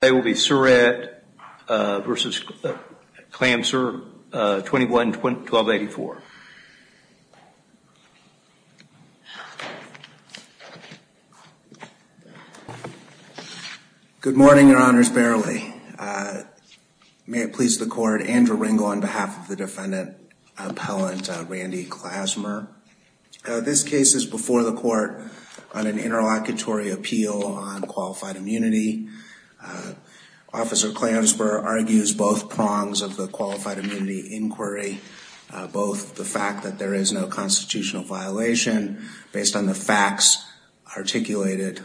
They will be Surat v. Klamser, 21-1284. Good morning, Your Honors, barely. May it please the Court, Andrew Ringel on behalf of the Defendant Appellant Randy Klasmer. This case is before the Court on an interlocutory appeal on qualified immunity. Officer Klamser argues both prongs of the qualified immunity inquiry, both the fact that there is no constitutional violation based on the facts articulated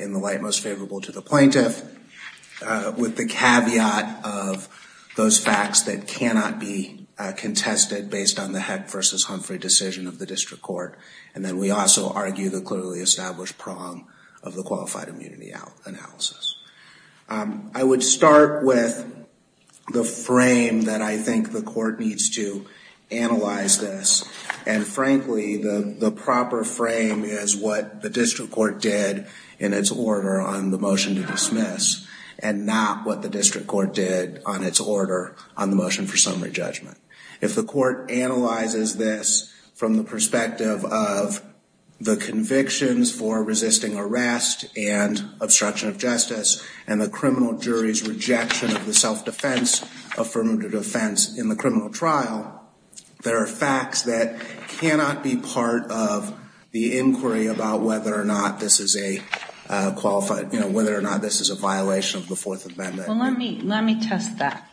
in the light most favorable to the plaintiff, with the caveat of those facts that cannot be contested based on the Heck v. Humphrey decision of the District Court, and then we also argue the clearly established prong of the qualified immunity analysis. I would start with the frame that I think the Court needs to analyze this, and frankly the proper frame is what the District Court did in its order on the motion to dismiss, and not what the District Court did on its order on the motion for summary judgment. If the Court analyzes this from the perspective of the convictions for resisting arrest and obstruction of justice, and the criminal jury's rejection of the self-defense affirmative defense in the criminal trial, there are facts that cannot be part of the inquiry about whether or not this is a qualified, you know, whether or not this is a violation of the Fourth Amendment. Well, let me test that.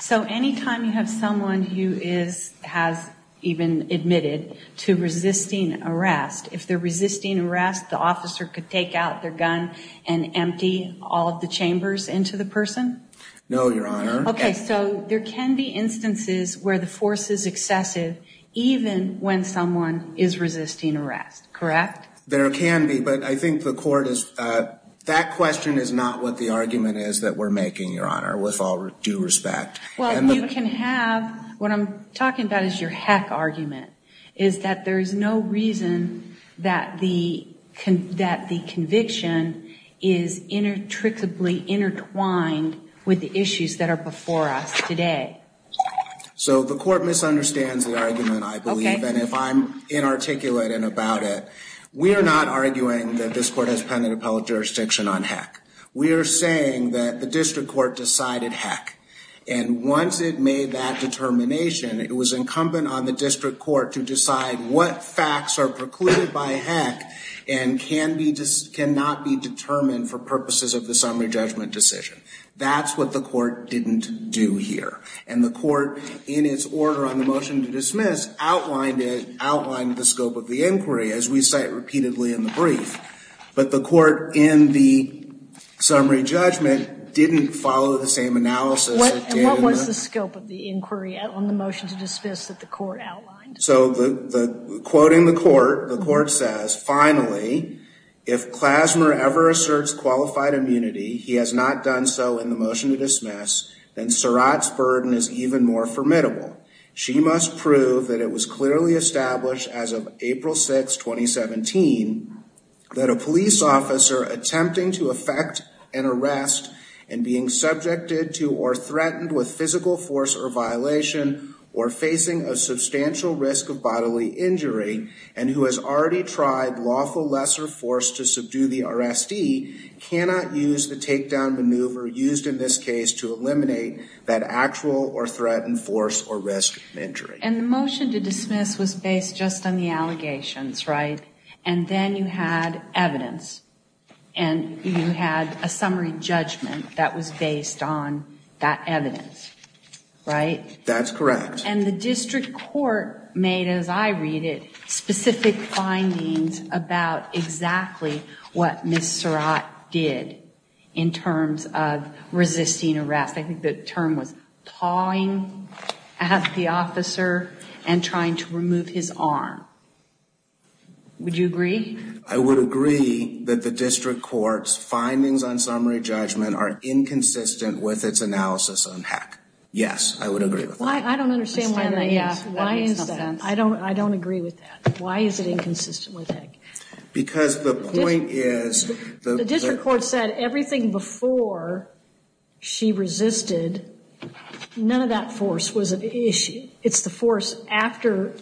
So anytime you have someone who is, has even admitted to resisting arrest, if they're resisting arrest, the officer could take out their gun and empty all of the chambers into the person? No, Your Honor. Okay, so there can be instances where the force is excessive, even when someone is resisting arrest, correct? There can be, but I think the Court is, that question is not what the argument is that we're making, Your Honor, with all due respect. Well, you can have, what I'm talking about is your Heck argument, is that there is no reason that the conviction is intricately intertwined with the issues that are before us today. So the Court misunderstands the argument, I believe, and if I'm inarticulate and about it, we are not arguing that this Court has pen and appellate jurisdiction on Heck. We are saying that the District Court decided Heck, and once it made that determination, it was incumbent on the District Court to decide what facts are precluded by Heck and can be, cannot be determined for purposes of the summary judgment decision. That's what the Court didn't do here, and the Court, in its order on the motion to dismiss, outlined it, outlined the scope of the inquiry, as we cite repeatedly in the brief, but the summary judgment didn't follow the same analysis. What was the scope of the inquiry on the motion to dismiss that the Court outlined? So the, quoting the Court, the Court says, finally, if Klasner ever asserts qualified immunity, he has not done so in the motion to dismiss, then Surratt's burden is even more formidable. She must prove that it was clearly established as of April 6, 2017, that a police officer attempting to effect an arrest and being subjected to or threatened with physical force or violation, or facing a substantial risk of bodily injury, and who has already tried lawful lesser force to subdue the RSD, cannot use the takedown maneuver used in this case to eliminate that actual or threatened force or risk of injury. And the motion to dismiss was based just on the allegations, right? And then you had evidence, and you had a summary judgment that was based on that evidence, right? That's correct. And the district court made, as I read it, specific findings about exactly what Ms. Surratt did in terms of resisting arrest. I think the term was pawing at the officer and trying to remove his arm. Would you agree? I would agree that the district court's findings on summary judgment are inconsistent with its analysis on Heck. Yes, I would agree with that. I don't understand why that is. Why is that? I don't agree with that. Why is it inconsistent with Heck? Because the point is... The district court said everything before she resisted, none of that force was an issue. It's the force after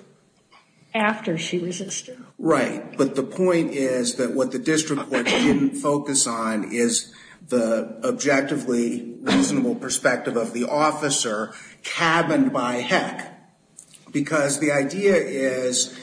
she resisted. Right. But the point is that what the district court didn't focus on is the objectively reasonable perspective of the officer cabined by Heck. Because the idea is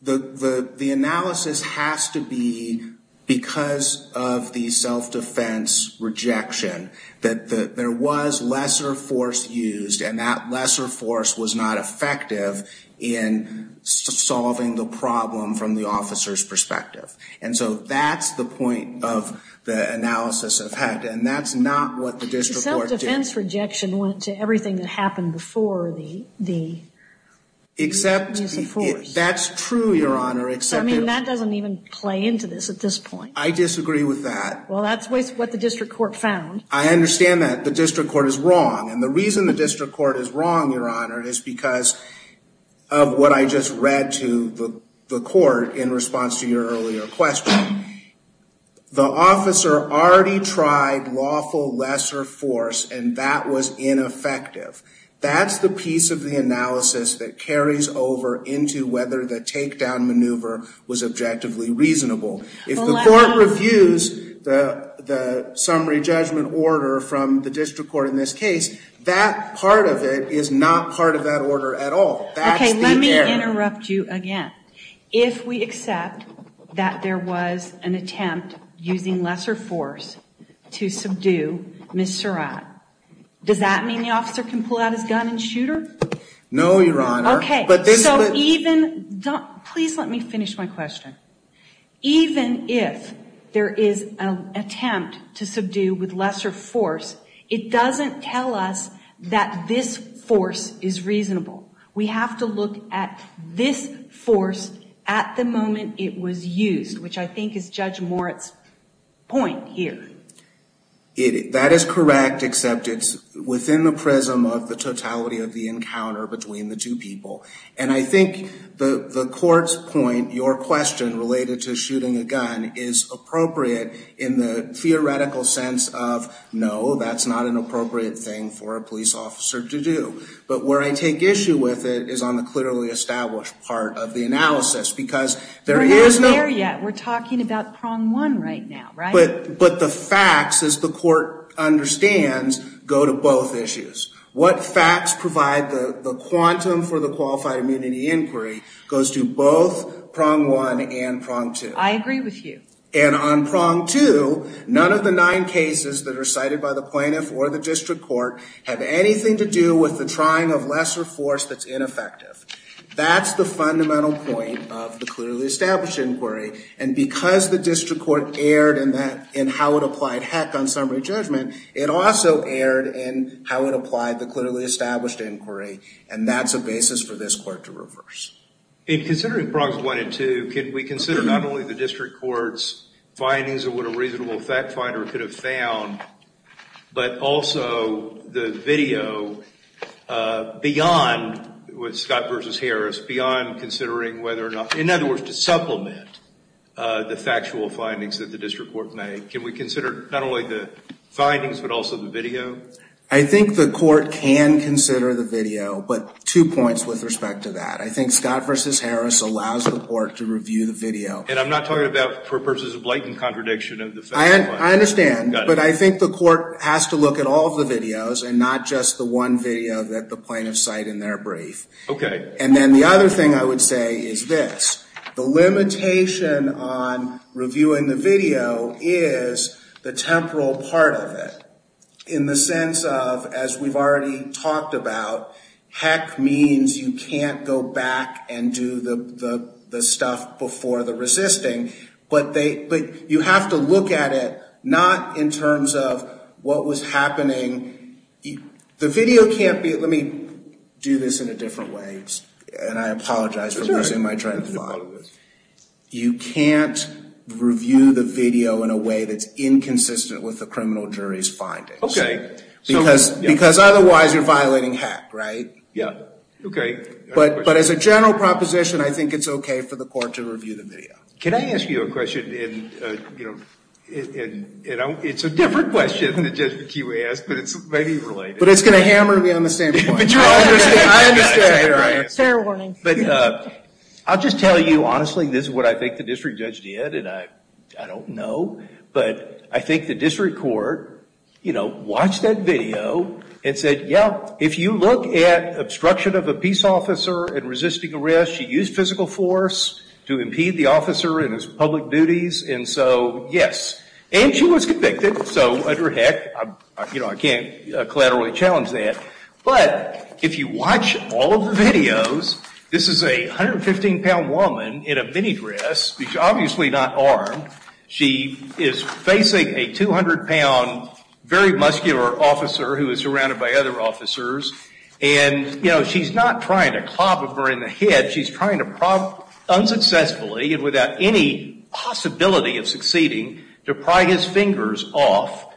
the analysis has to be because of the self-defense rejection, that there was lesser force used and that lesser force was not effective in solving the problem from the officer's perspective. And so that's the point of the analysis of Heck. And that's not what the district court did. Self-defense rejection went to everything that happened before the use of force. That's true, Your Honor, except... I mean, that doesn't even play into this at this point. I disagree with that. Well, that's what the district court found. I understand that the district court is wrong. And the reason the district court is wrong, Your Honor, is because of what I just read to the court in response to your earlier question. The officer already tried lawful lesser force and that was ineffective. That's the piece of the analysis that carries over into whether the takedown maneuver was objectively reasonable. If the court reviews the summary judgment order from the district court in this case, that part of it is not part of that order at all. Okay, let me interrupt you again. If we accept that there was an attempt using lesser force to subdue Ms. Surratt, does that mean the officer can pull out his gun and shoot her? No, Your Honor. Okay, so even... Please let me finish my question. Even if there is an attempt to subdue with lesser force, it doesn't tell us that this force is reasonable. We have to look at this force at the moment it was used, which I think is Judge Moritz' point here. That is correct, except it's within the prism of the totality of the encounter between the two people. I think the court's point, your question related to shooting a gun, is appropriate in the theoretical sense of, no, that's not an appropriate thing for a police officer to do. But where I take issue with it is on the clearly established part of the analysis, because there is no... We're not there yet. We're talking about prong one right now, right? But the facts, as the court understands, go to both issues. What facts provide the quantum for the qualified immunity inquiry goes to both prong one and prong two. I agree with you. And on prong two, none of the nine cases that are cited by the plaintiff or the district court have anything to do with the trying of lesser force that's ineffective. That's the fundamental point of the clearly established inquiry. And because the district court erred in how it applied heck on summary judgment, it also erred in how it applied the clearly established inquiry. And that's a basis for this court to reverse. In considering prongs one and two, can we consider not only the district court's findings of what a reasonable fact finder could have found, but also the video beyond Scott versus Harris, beyond considering whether or not... In other words, to supplement the factual findings that the district court made, can we consider not only the findings, but also the video? I think the court can consider the video, but two points with respect to that. I think Scott versus Harris allows the court to review the video. And I'm not talking about for purposes of blatant contradiction of the facts. I understand. But I think the court has to look at all of the videos and not just the one video that the plaintiffs cite in their brief. OK. And then the other thing I would say is this. The limitation on reviewing the video is the temporal part of it. In the sense of, as we've already talked about, heck means you can't go back and do the stuff before the resisting. But you have to look at it not in terms of what was happening. The video can't be... Let me do this in a different way. And I apologize for losing my train of thought. You can't review the video in a way that's inconsistent with the criminal jury's findings. OK. Because otherwise, you're violating heck, right? Yeah. OK. But as a general proposition, I think it's OK for the court to review the video. Can I ask you a question? It's a different question than the judgment you asked, but it's maybe related. But it's going to hammer me on the same point. But you're right. I understand. It's a fair warning. But I'll just tell you honestly, this is what I think the district judge did. And I don't know. But I think the district court watched that video and said, yeah, if you look at obstruction of a peace officer and resisting arrest, she used physical force to impede the officer in his public duties. And so, yes. And she was convicted. So under heck, I can't collaterally challenge that. But if you watch all of the videos, this is a 115-pound woman in a minidress. She's obviously not armed. She is facing a 200-pound, very muscular officer who is surrounded by other officers. And she's not trying to clobber her in the head. She's trying to unsuccessfully and without any possibility of succeeding to pry his fingers off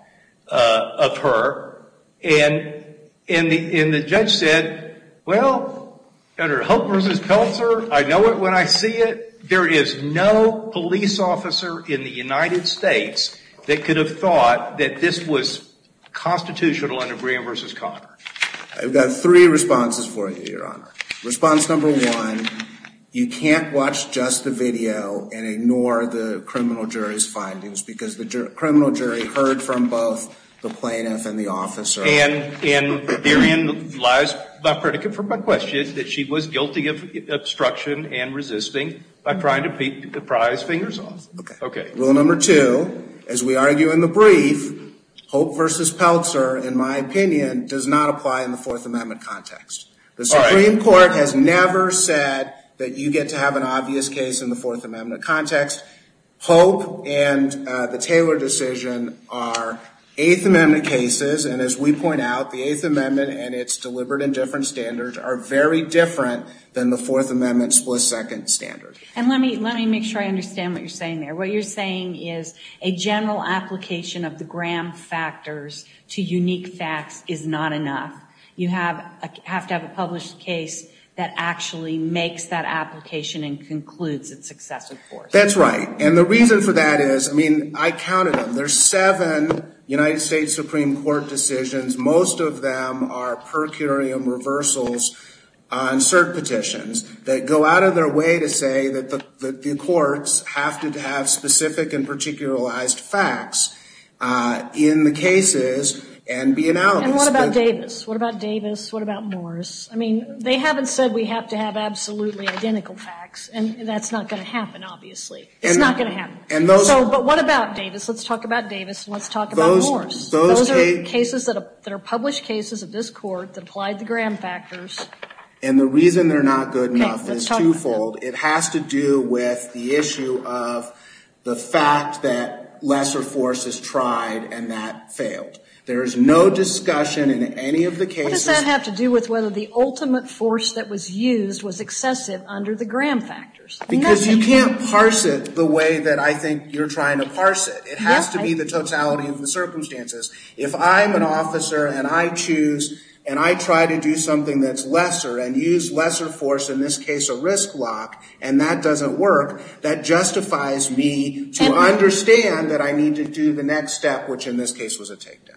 of her. And the judge said, well, under Hope versus Peltzer, I know it when I see it. There is no police officer in the United States that could have thought that this was constitutional under Graham versus Conner. I've got three responses for you, Your Honor. Response number one, you can't watch just the video and ignore the criminal jury's And therein lies the predicate for my question is that she was guilty of obstruction and resisting by trying to pry his fingers off. Rule number two, as we argue in the brief, Hope versus Peltzer, in my opinion, does not apply in the Fourth Amendment context. The Supreme Court has never said that you get to have an obvious case in the Fourth Amendment context. Hope and the Taylor decision are Eighth Amendment cases. And as we point out, the Eighth Amendment and its deliberate and different standards are very different than the Fourth Amendment's split-second standard. And let me make sure I understand what you're saying there. What you're saying is a general application of the Graham factors to unique facts is not enough. You have to have a published case that actually makes that application and concludes its successive course. That's right. And the reason for that is, I mean, I counted them. There's seven United States Supreme Court decisions. Most of them are per curiam reversals on cert petitions that go out of their way to say that the courts have to have specific and particularized facts in the cases and be analogous. And what about Davis? What about Davis? What about Morris? I mean, they haven't said we have to have absolutely identical facts, and that's not going to happen, obviously. It's not going to happen. So but what about Davis? Let's talk about Davis, and let's talk about Morris. Those are cases that are published cases of this Court that applied the Graham factors. And the reason they're not good enough is twofold. It has to do with the issue of the fact that lesser force is tried and that failed. There is no discussion in any of the cases. What does that have to do with whether the ultimate force that was used was excessive under the Graham factors? Because you can't parse it the way that I think you're trying to parse it. It has to be the totality of the circumstances. If I'm an officer and I choose and I try to do something that's lesser and use lesser force, in this case a risk block, and that doesn't work, that justifies me to understand that I need to do the next step, which in this case was a takedown.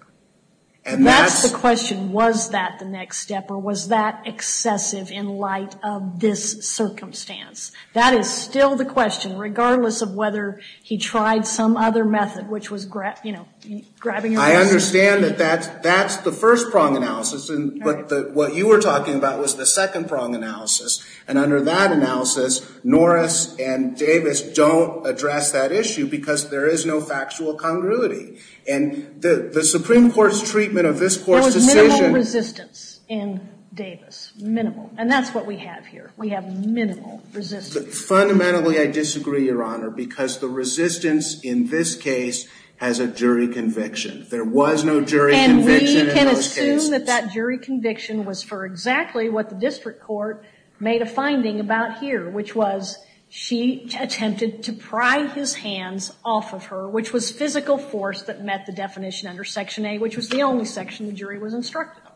And that's the question. Was that the next step or was that excessive in light of this circumstance? That is still the question, regardless of whether he tried some other method, which was grabbing your arm. I understand that that's the first prong analysis, but what you were talking about was the second prong analysis. And under that analysis, Norris and Davis don't address that issue because there is no factual congruity. And the Supreme Court's treatment of this Court's decision— There was minimal resistance in Davis. Minimal. And that's what we have here. We have minimal resistance. Fundamentally, I disagree, Your Honor, because the resistance in this case has a jury conviction. There was no jury conviction in those cases. And we can assume that that jury conviction was for exactly what the district court made a finding about here, which was she attempted to pry his hands off of her, which was physical force that met the definition under Section A, which was the only section the jury was instructed on.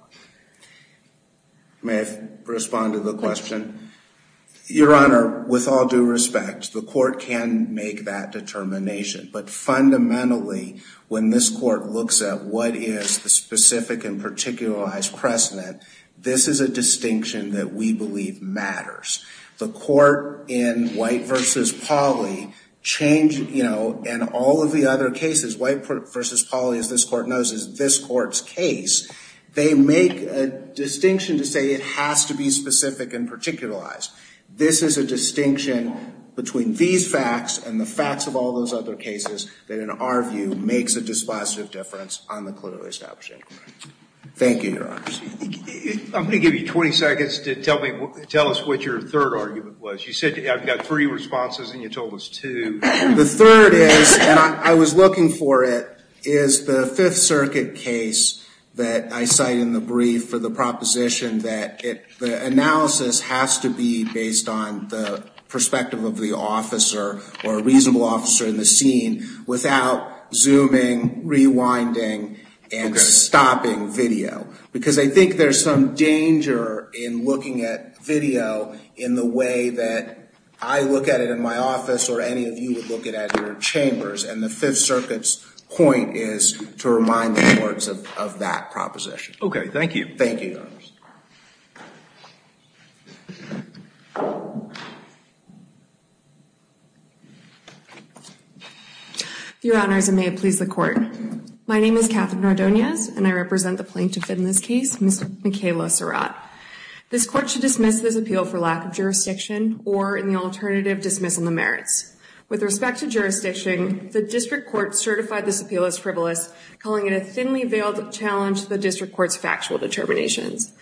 May I respond to the question? Your Honor, with all due respect, the Court can make that determination. But fundamentally, when this Court looks at what is the specific and particularized precedent, this is a distinction that we believe matters. The Court in White v. Pauley changed—you know, in all of the other cases, White v. Pauley made a distinction to say it has to be specific and particularized. This is a distinction between these facts and the facts of all those other cases that, in our view, makes a dispositive difference on the clearly establishing of the Court. Thank you, Your Honor. I'm going to give you 20 seconds to tell us what your third argument was. You said, I've got three responses, and you told us two. The third is—and I was looking for it—is the Fifth Circuit case that I cite in the brief for the proposition that the analysis has to be based on the perspective of the officer or a reasonable officer in the scene without zooming, rewinding, and stopping video. Because I think there's some danger in looking at video in the way that I look at it in my chambers. And the Fifth Circuit's point is to remind the courts of that proposition. Okay. Thank you. Thank you, Your Honors. Your Honors, and may it please the Court. My name is Katherine Ardoniz, and I represent the plaintiff in this case, Ms. Michaela Surratt. This Court should dismiss this appeal for lack of jurisdiction or, in the alternative, dismissing the merits. With respect to jurisdiction, the district court certified this appeal as frivolous, calling it a thinly veiled challenge to the district court's factual determinations.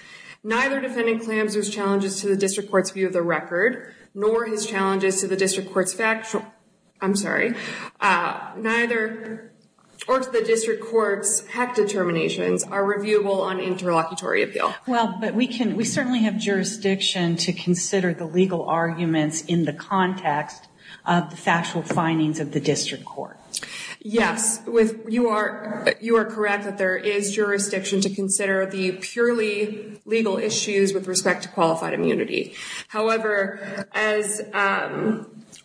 Neither defendant claims those challenges to the district court's view of the record nor his challenges to the district court's factual—I'm sorry—neither—or to the district court's HEC determinations are reviewable on interlocutory appeal. Well, but we can—we certainly have jurisdiction to consider the legal arguments in the context of the factual findings of the district court. Yes. You are correct that there is jurisdiction to consider the purely legal issues with respect to qualified immunity. However, as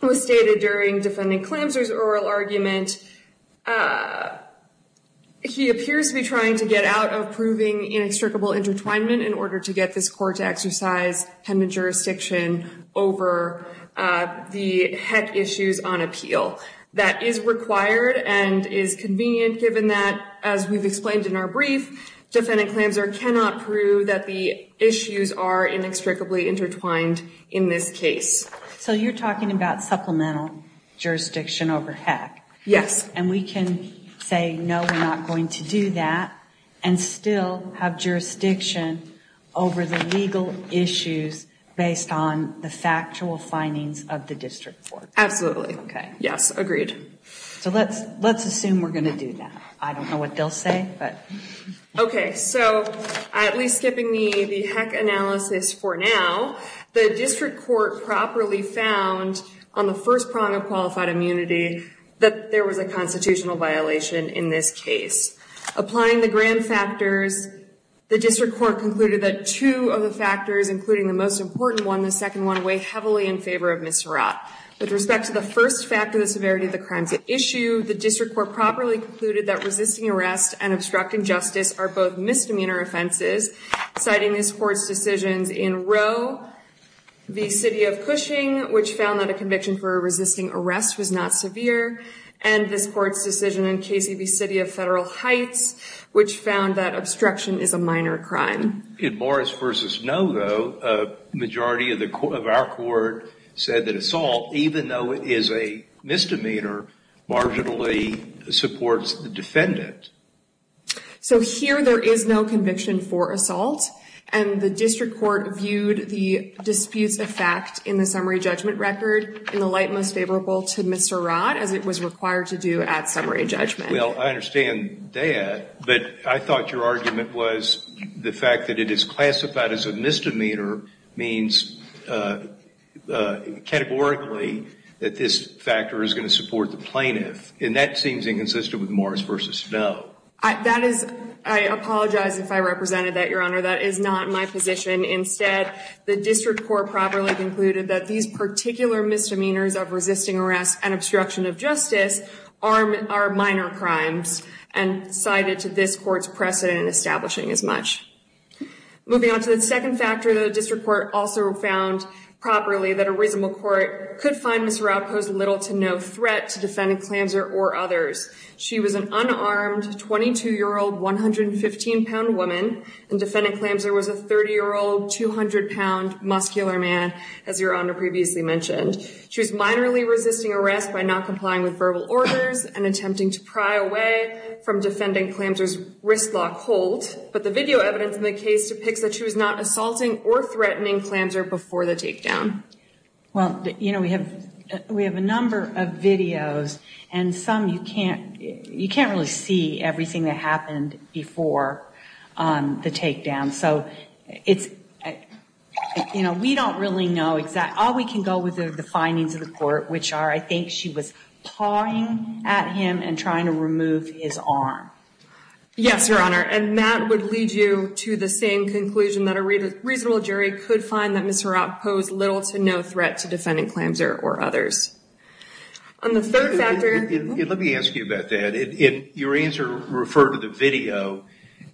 was stated during Defendant Clamser's oral argument, he appears to be trying to get out of proving inextricable intertwinement in order to get this court to exercise dependent jurisdiction over the HEC issues on appeal. That is required and is convenient given that, as we've explained in our brief, Defendant Clamser cannot prove that the issues are inextricably intertwined in this case. So you're talking about supplemental jurisdiction over HEC? Yes. And we can say, no, we're not going to do that and still have jurisdiction over the legal issues based on the factual findings of the district court. Absolutely. Okay. Yes, agreed. So let's assume we're going to do that. I don't know what they'll say, but— Okay, so at least skipping the HEC analysis for now, the district court properly found on the first prong of qualified immunity that there was a constitutional violation in this case. Applying the Graham factors, the district court concluded that two of the factors, including the most important one, the second one, weigh heavily in favor of Miserat. With respect to the first factor, the severity of the crimes at issue, the district court properly concluded that resisting arrest and obstructing justice are both misdemeanor offenses, citing this court's decisions in Roe v. City of Cushing, which found that a conviction for resisting arrest was not severe, and this court's decision in Casey v. City of Federal Heights, which found that obstruction is a minor crime. In Morris v. Noe, though, a majority of our court said that assault, even though it is a misdemeanor, marginally supports the defendant. So here there is no conviction for assault, and the district court viewed the dispute's effect in the summary judgment record in the light most favorable to Miserat as it was required to do at summary judgment. Well, I understand that, but I thought your argument was the fact that it is classified as a misdemeanor means categorically that this factor is going to support the plaintiff, and that seems inconsistent with Morris v. Noe. That is, I apologize if I represented that, Your Honor. That is not my position. Instead, the district court properly concluded that these particular misdemeanors of resisting arrest and obstruction of justice are minor crimes and cited to this court's precedent in establishing as much. Moving on to the second factor, the district court also found properly that a reasonable court could find Miserat posed little to no threat to Defendant Clamser or others. She was an unarmed, 22-year-old, 115-pound woman, and Defendant Clamser was a 30-year-old, 200-pound, muscular man, as Your Honor previously mentioned. She was minorly resisting arrest by not complying with verbal orders and attempting to pry away from Defendant Clamser's wristlock hold, but the video evidence in the case depicts that she was not assaulting or threatening Clamser before the takedown. Well, you know, we have a number of videos, and some you can't really see everything that happened before the takedown. So it's, you know, we don't really know exactly. All we can go with are the findings of the court, which are I think she was pawing at him and trying to remove his arm. Yes, Your Honor, and that would lead you to the same conclusion that a reasonable jury could find that Miserat posed little to no threat to Defendant Clamser or others. On the third factor— Let me ask you about that. Your answer referred to the video,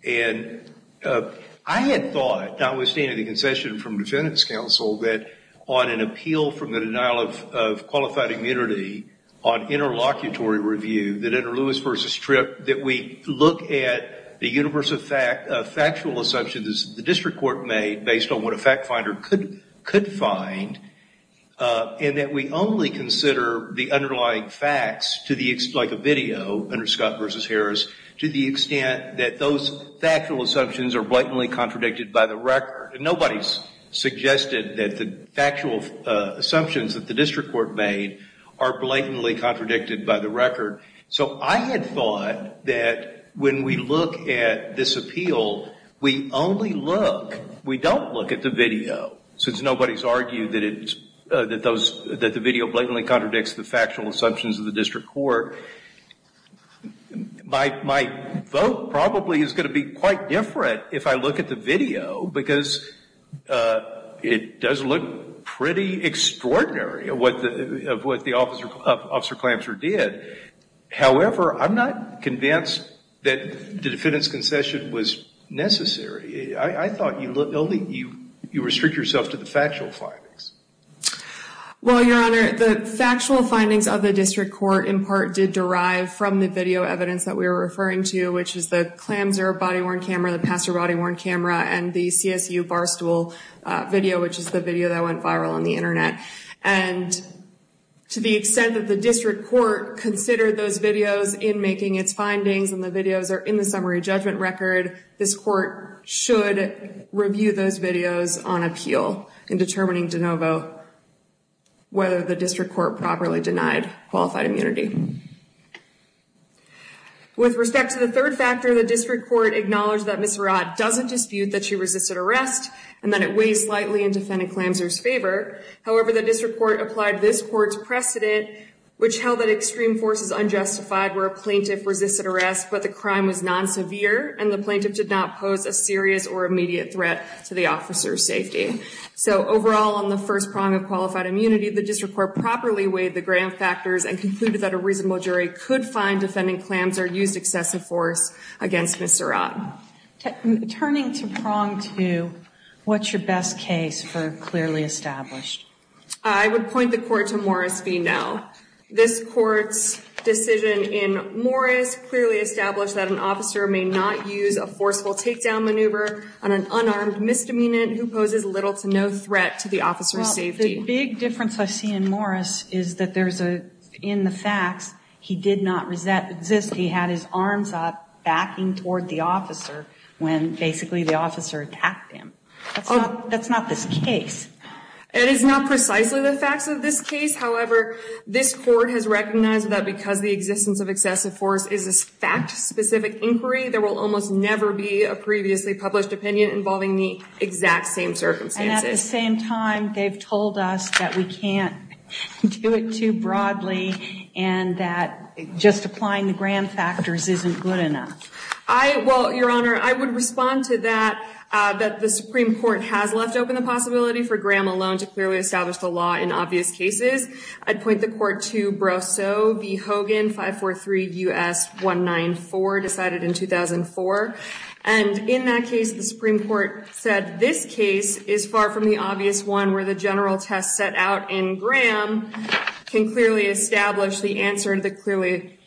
and I had thought, notwithstanding the concession from Defendant's counsel, that on an appeal from the denial of qualified immunity on interlocutory review, that under Lewis v. Tripp, that we look at the universe of factual assumptions the district court made based on what a fact finder could find, and that we only consider the underlying facts, like a video under Scott v. Harris, to the extent that those factual assumptions are blatantly contradicted by the record. Nobody suggested that the factual assumptions that the district court made are blatantly contradicted by the record. So I had thought that when we look at this appeal, we only look, we don't look at the factual assumptions of the district court. My vote probably is going to be quite different if I look at the video, because it does look pretty extraordinary of what the Officer Clamser did. However, I'm not convinced that the Defendant's concession was necessary. I thought you restrict yourself to the factual findings. Well, Your Honor, the factual findings of the district court, in part, did derive from the video evidence that we were referring to, which is the Clamser body-worn camera, the Passer body-worn camera, and the CSU bar stool video, which is the video that went viral on the internet. And to the extent that the district court considered those videos in making its findings, and the videos are in the summary judgment record, this court should review those videos on appeal in determining de novo, whether the district court properly denied qualified immunity. With respect to the third factor, the district court acknowledged that Ms. Verratt doesn't dispute that she resisted arrest, and that it weighs slightly in Defendant Clamser's favor. However, the district court applied this court's precedent, which held that extreme forces unjustified where a plaintiff resisted arrest, but the crime was non-severe, and the plaintiff did not pose a serious or immediate threat to the officer's safety. So overall, on the first prong of qualified immunity, the district court properly weighed the grand factors and concluded that a reasonable jury could find Defendant Clamser used excessive force against Ms. Verratt. Turning to prong two, what's your best case for clearly established? I would point the court to Morris v. Nell. This court's decision in Morris clearly established that an officer may not use a forceful takedown maneuver on an unarmed misdemeanant who poses little to no threat to the officer's safety. The big difference I see in Morris is that in the facts, he did not resist. He had his arms up, backing toward the officer when basically the officer attacked him. That's not this case. It is not precisely the facts of this case. However, this court has recognized that because the existence of excessive force is a fact specific inquiry, there will almost never be a previously published opinion involving the exact same circumstances. And at the same time, they've told us that we can't do it too broadly and that just applying the grand factors isn't good enough. Well, Your Honor, I would respond to that, that the Supreme Court has left open the possibility for Graham alone to clearly establish the law in obvious cases. I'd point the court to Brosseau v. Hogan, 543 U.S. 194, decided in 2004. And in that case, the Supreme Court said this case is far from the obvious one where the general test set out in Graham can clearly establish the answer to the clearly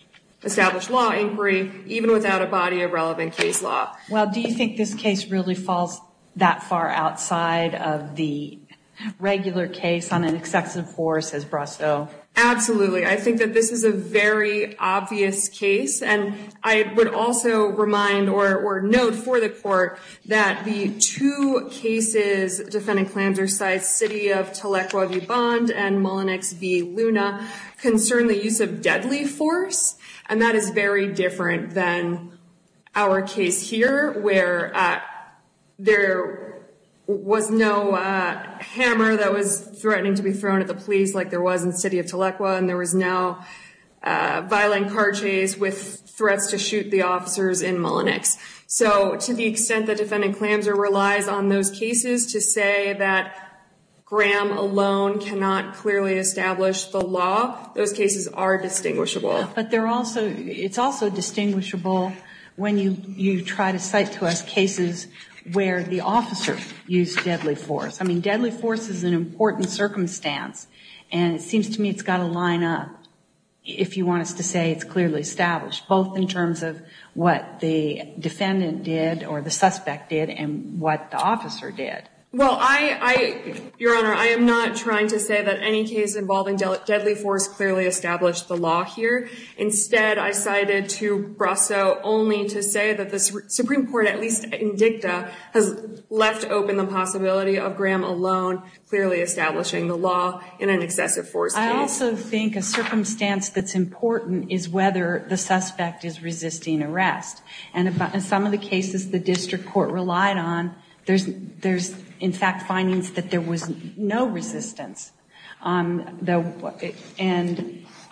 established law inquiry, even without a body of relevant case law. Well, do you think this case really falls that far outside of the regular case on an excessive force as Brosseau? Absolutely. I think that this is a very obvious case. And I would also remind or note for the court that the two cases defending Klamzersheid City of Tleil-e-Kwabi Bond and Mullenix v. Luna concern the use of deadly force. And that is very different than our case here where there was no hammer that was threatening to be thrown at the police like there was in the City of Tleil-e-Kwabi and there was no violent car chase with threats to shoot the officers in Mullenix. So to the extent that defendant Klamzer relies on those cases to say that Graham alone cannot clearly establish the law, those cases are distinguishable. But it's also distinguishable when you try to cite to us cases where the officer used deadly force. I mean, deadly force is an important circumstance. And it seems to me it's got to line up if you want us to say it's clearly established, both in terms of what the defendant did or the suspect did and what the officer did. Well, Your Honor, I am not trying to say that any case involving deadly force clearly established the law here. Instead, I cited to Brasso only to say that the Supreme Court, at least in dicta, has left open the possibility of Graham alone clearly establishing the law in an excessive force case. I also think a circumstance that's important is whether the suspect is resisting arrest. And in some of the cases the district court relied on, there's, in fact, findings that there was no resistance. And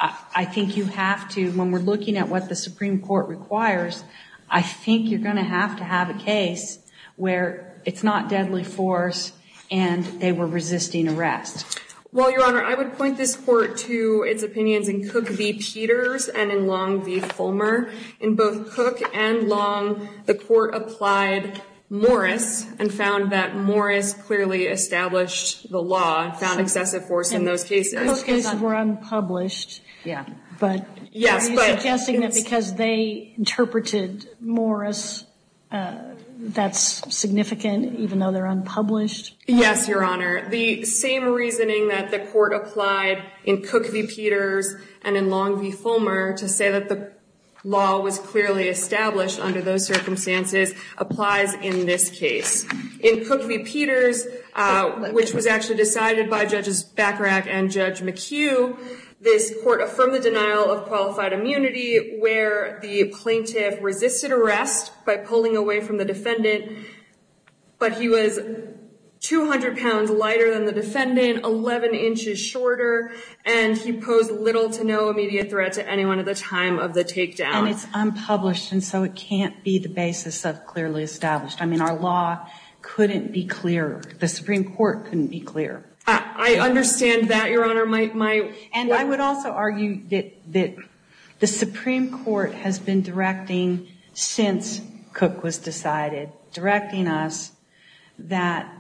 I think you have to, when we're looking at what the Supreme Court requires, I think you're going to have to have a case where it's not deadly force and they were resisting arrest. Well, Your Honor, I would point this court to its opinions in Cook v. Peters and in Long v. Fulmer. In both Cook and Long, the court applied Morris and found that Morris clearly established the law and found excessive force in those cases. Those cases were unpublished. Yeah. But are you suggesting that because they interpreted Morris, that's significant even though they're unpublished? Yes, Your Honor. The same reasoning that the court applied in Cook v. Peters and in Long v. Fulmer to say that the law was clearly established under those circumstances applies in this case. In Cook v. Peters, which was actually decided by Judges Bacharach and Judge McHugh, this court affirmed the denial of qualified immunity where the plaintiff resisted arrest by pulling away from the defendant. But he was 200 pounds lighter than the defendant, 11 inches shorter, and he posed little to no immediate threat to anyone at the time of the takedown. And it's unpublished, and so it can't be the basis of clearly established. Our law couldn't be clear. The Supreme Court couldn't be clear. I understand that, Your Honor. And I would also argue that the Supreme Court has been directing since Cook was decided, directing us that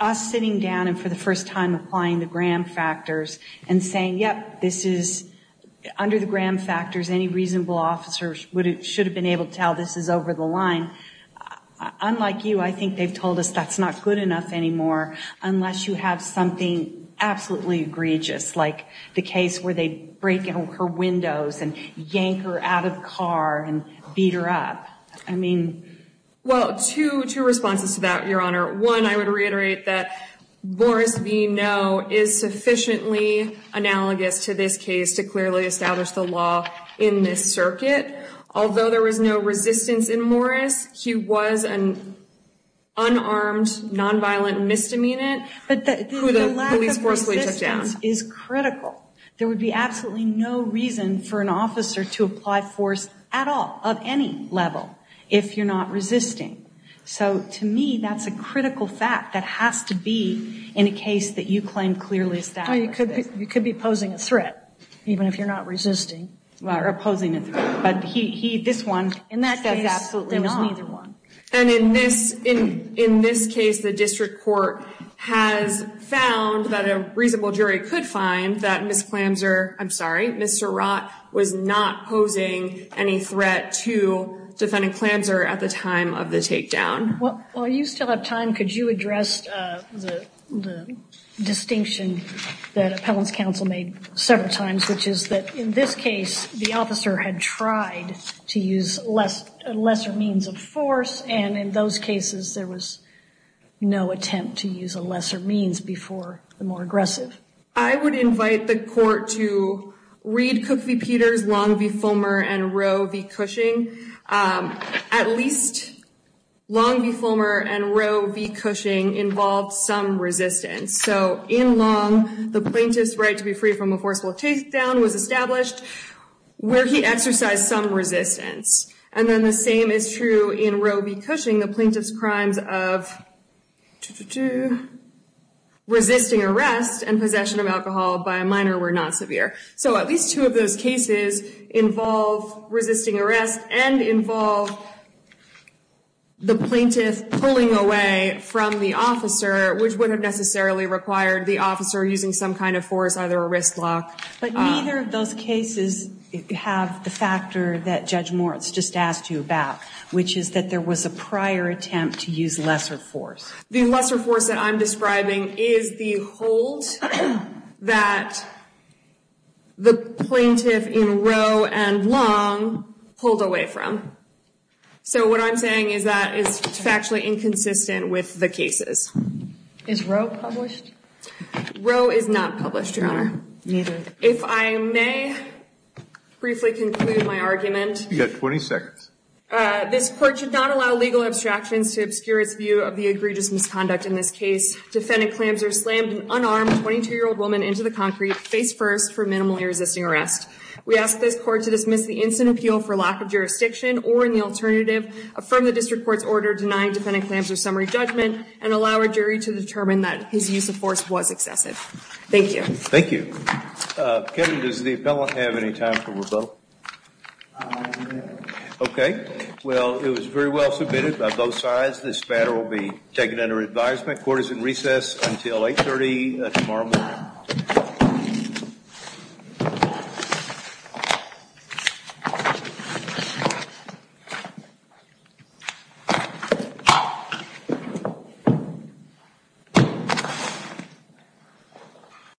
us sitting down and for the first time applying the Graham factors and saying, yep, under the Graham factors, any reasonable officer should have been able to tell this is over the line. Unlike you, I think they've told us that's not good enough anymore unless you have something absolutely egregious, like the case where they break in her windows and yank her out of the car and beat her up. I mean... Well, two responses to that, Your Honor. One, I would reiterate that Morris v. No is sufficiently analogous to this case to clearly establish the law in this circuit. Although there was no resistance in Morris, he was an unarmed, nonviolent misdemeanant who the police forcefully took down. But the lack of resistance is critical. There would be absolutely no reason for an officer to apply force at all, of any level, if you're not resisting. So to me, that's a critical fact that has to be in a case that you claim clearly is that racist. You could be posing a threat, even if you're not resisting or opposing a threat. But he, this one... In that case, there was neither one. And in this case, the district court has found that a reasonable jury could find that Ms. Clamser, I'm sorry, Ms. Surratt was not posing any threat to Defendant Clamser at the time of the takedown. While you still have time, could you address the distinction that Appellant's counsel made several times, which is that in this case, the officer had tried to use a lesser means of force. And in those cases, there was no attempt to use a lesser means before the more aggressive. I would invite the court to read Cook v. Peters, Long v. Fulmer, and Rowe v. Cushing. At least Long v. Fulmer and Rowe v. Cushing involved some resistance. So in Long, the plaintiff's right to be free from a forceful takedown was established, where he exercised some resistance. And then the same is true in Rowe v. Cushing. The plaintiff's crimes of resisting arrest and possession of alcohol by a minor were not severe. So at least two of those cases involve resisting arrest and involve the plaintiff pulling away from the officer, which wouldn't have necessarily required the officer using some kind of force, either a wrist lock. But neither of those cases have the factor that Judge Moritz just asked you about, which is that there was a prior attempt to use lesser force. The lesser force that I'm describing is the hold that the plaintiff in Rowe and Long pulled away from. So what I'm saying is that is factually inconsistent with the cases. Is Rowe published? Rowe is not published, Your Honor. Neither. If I may briefly conclude my argument. You have 20 seconds. This court should not allow legal abstractions to obscure its view of the egregious misconduct in this case. Defendant Klamser slammed an unarmed 22-year-old woman into the concrete, face first, for minimally resisting arrest. We ask this court to dismiss the instant appeal for lack of jurisdiction or, in the alternative, affirm the district court's order denying Defendant Klamser's summary judgment and allow a jury to determine that his use of force was excessive. Thank you. Thank you. Kevin, does the appellant have any time for rebuttal? OK. Well, it was very well submitted by both sides. This matter will be taken under advisement. Court is in recess until 8.30 tomorrow morning.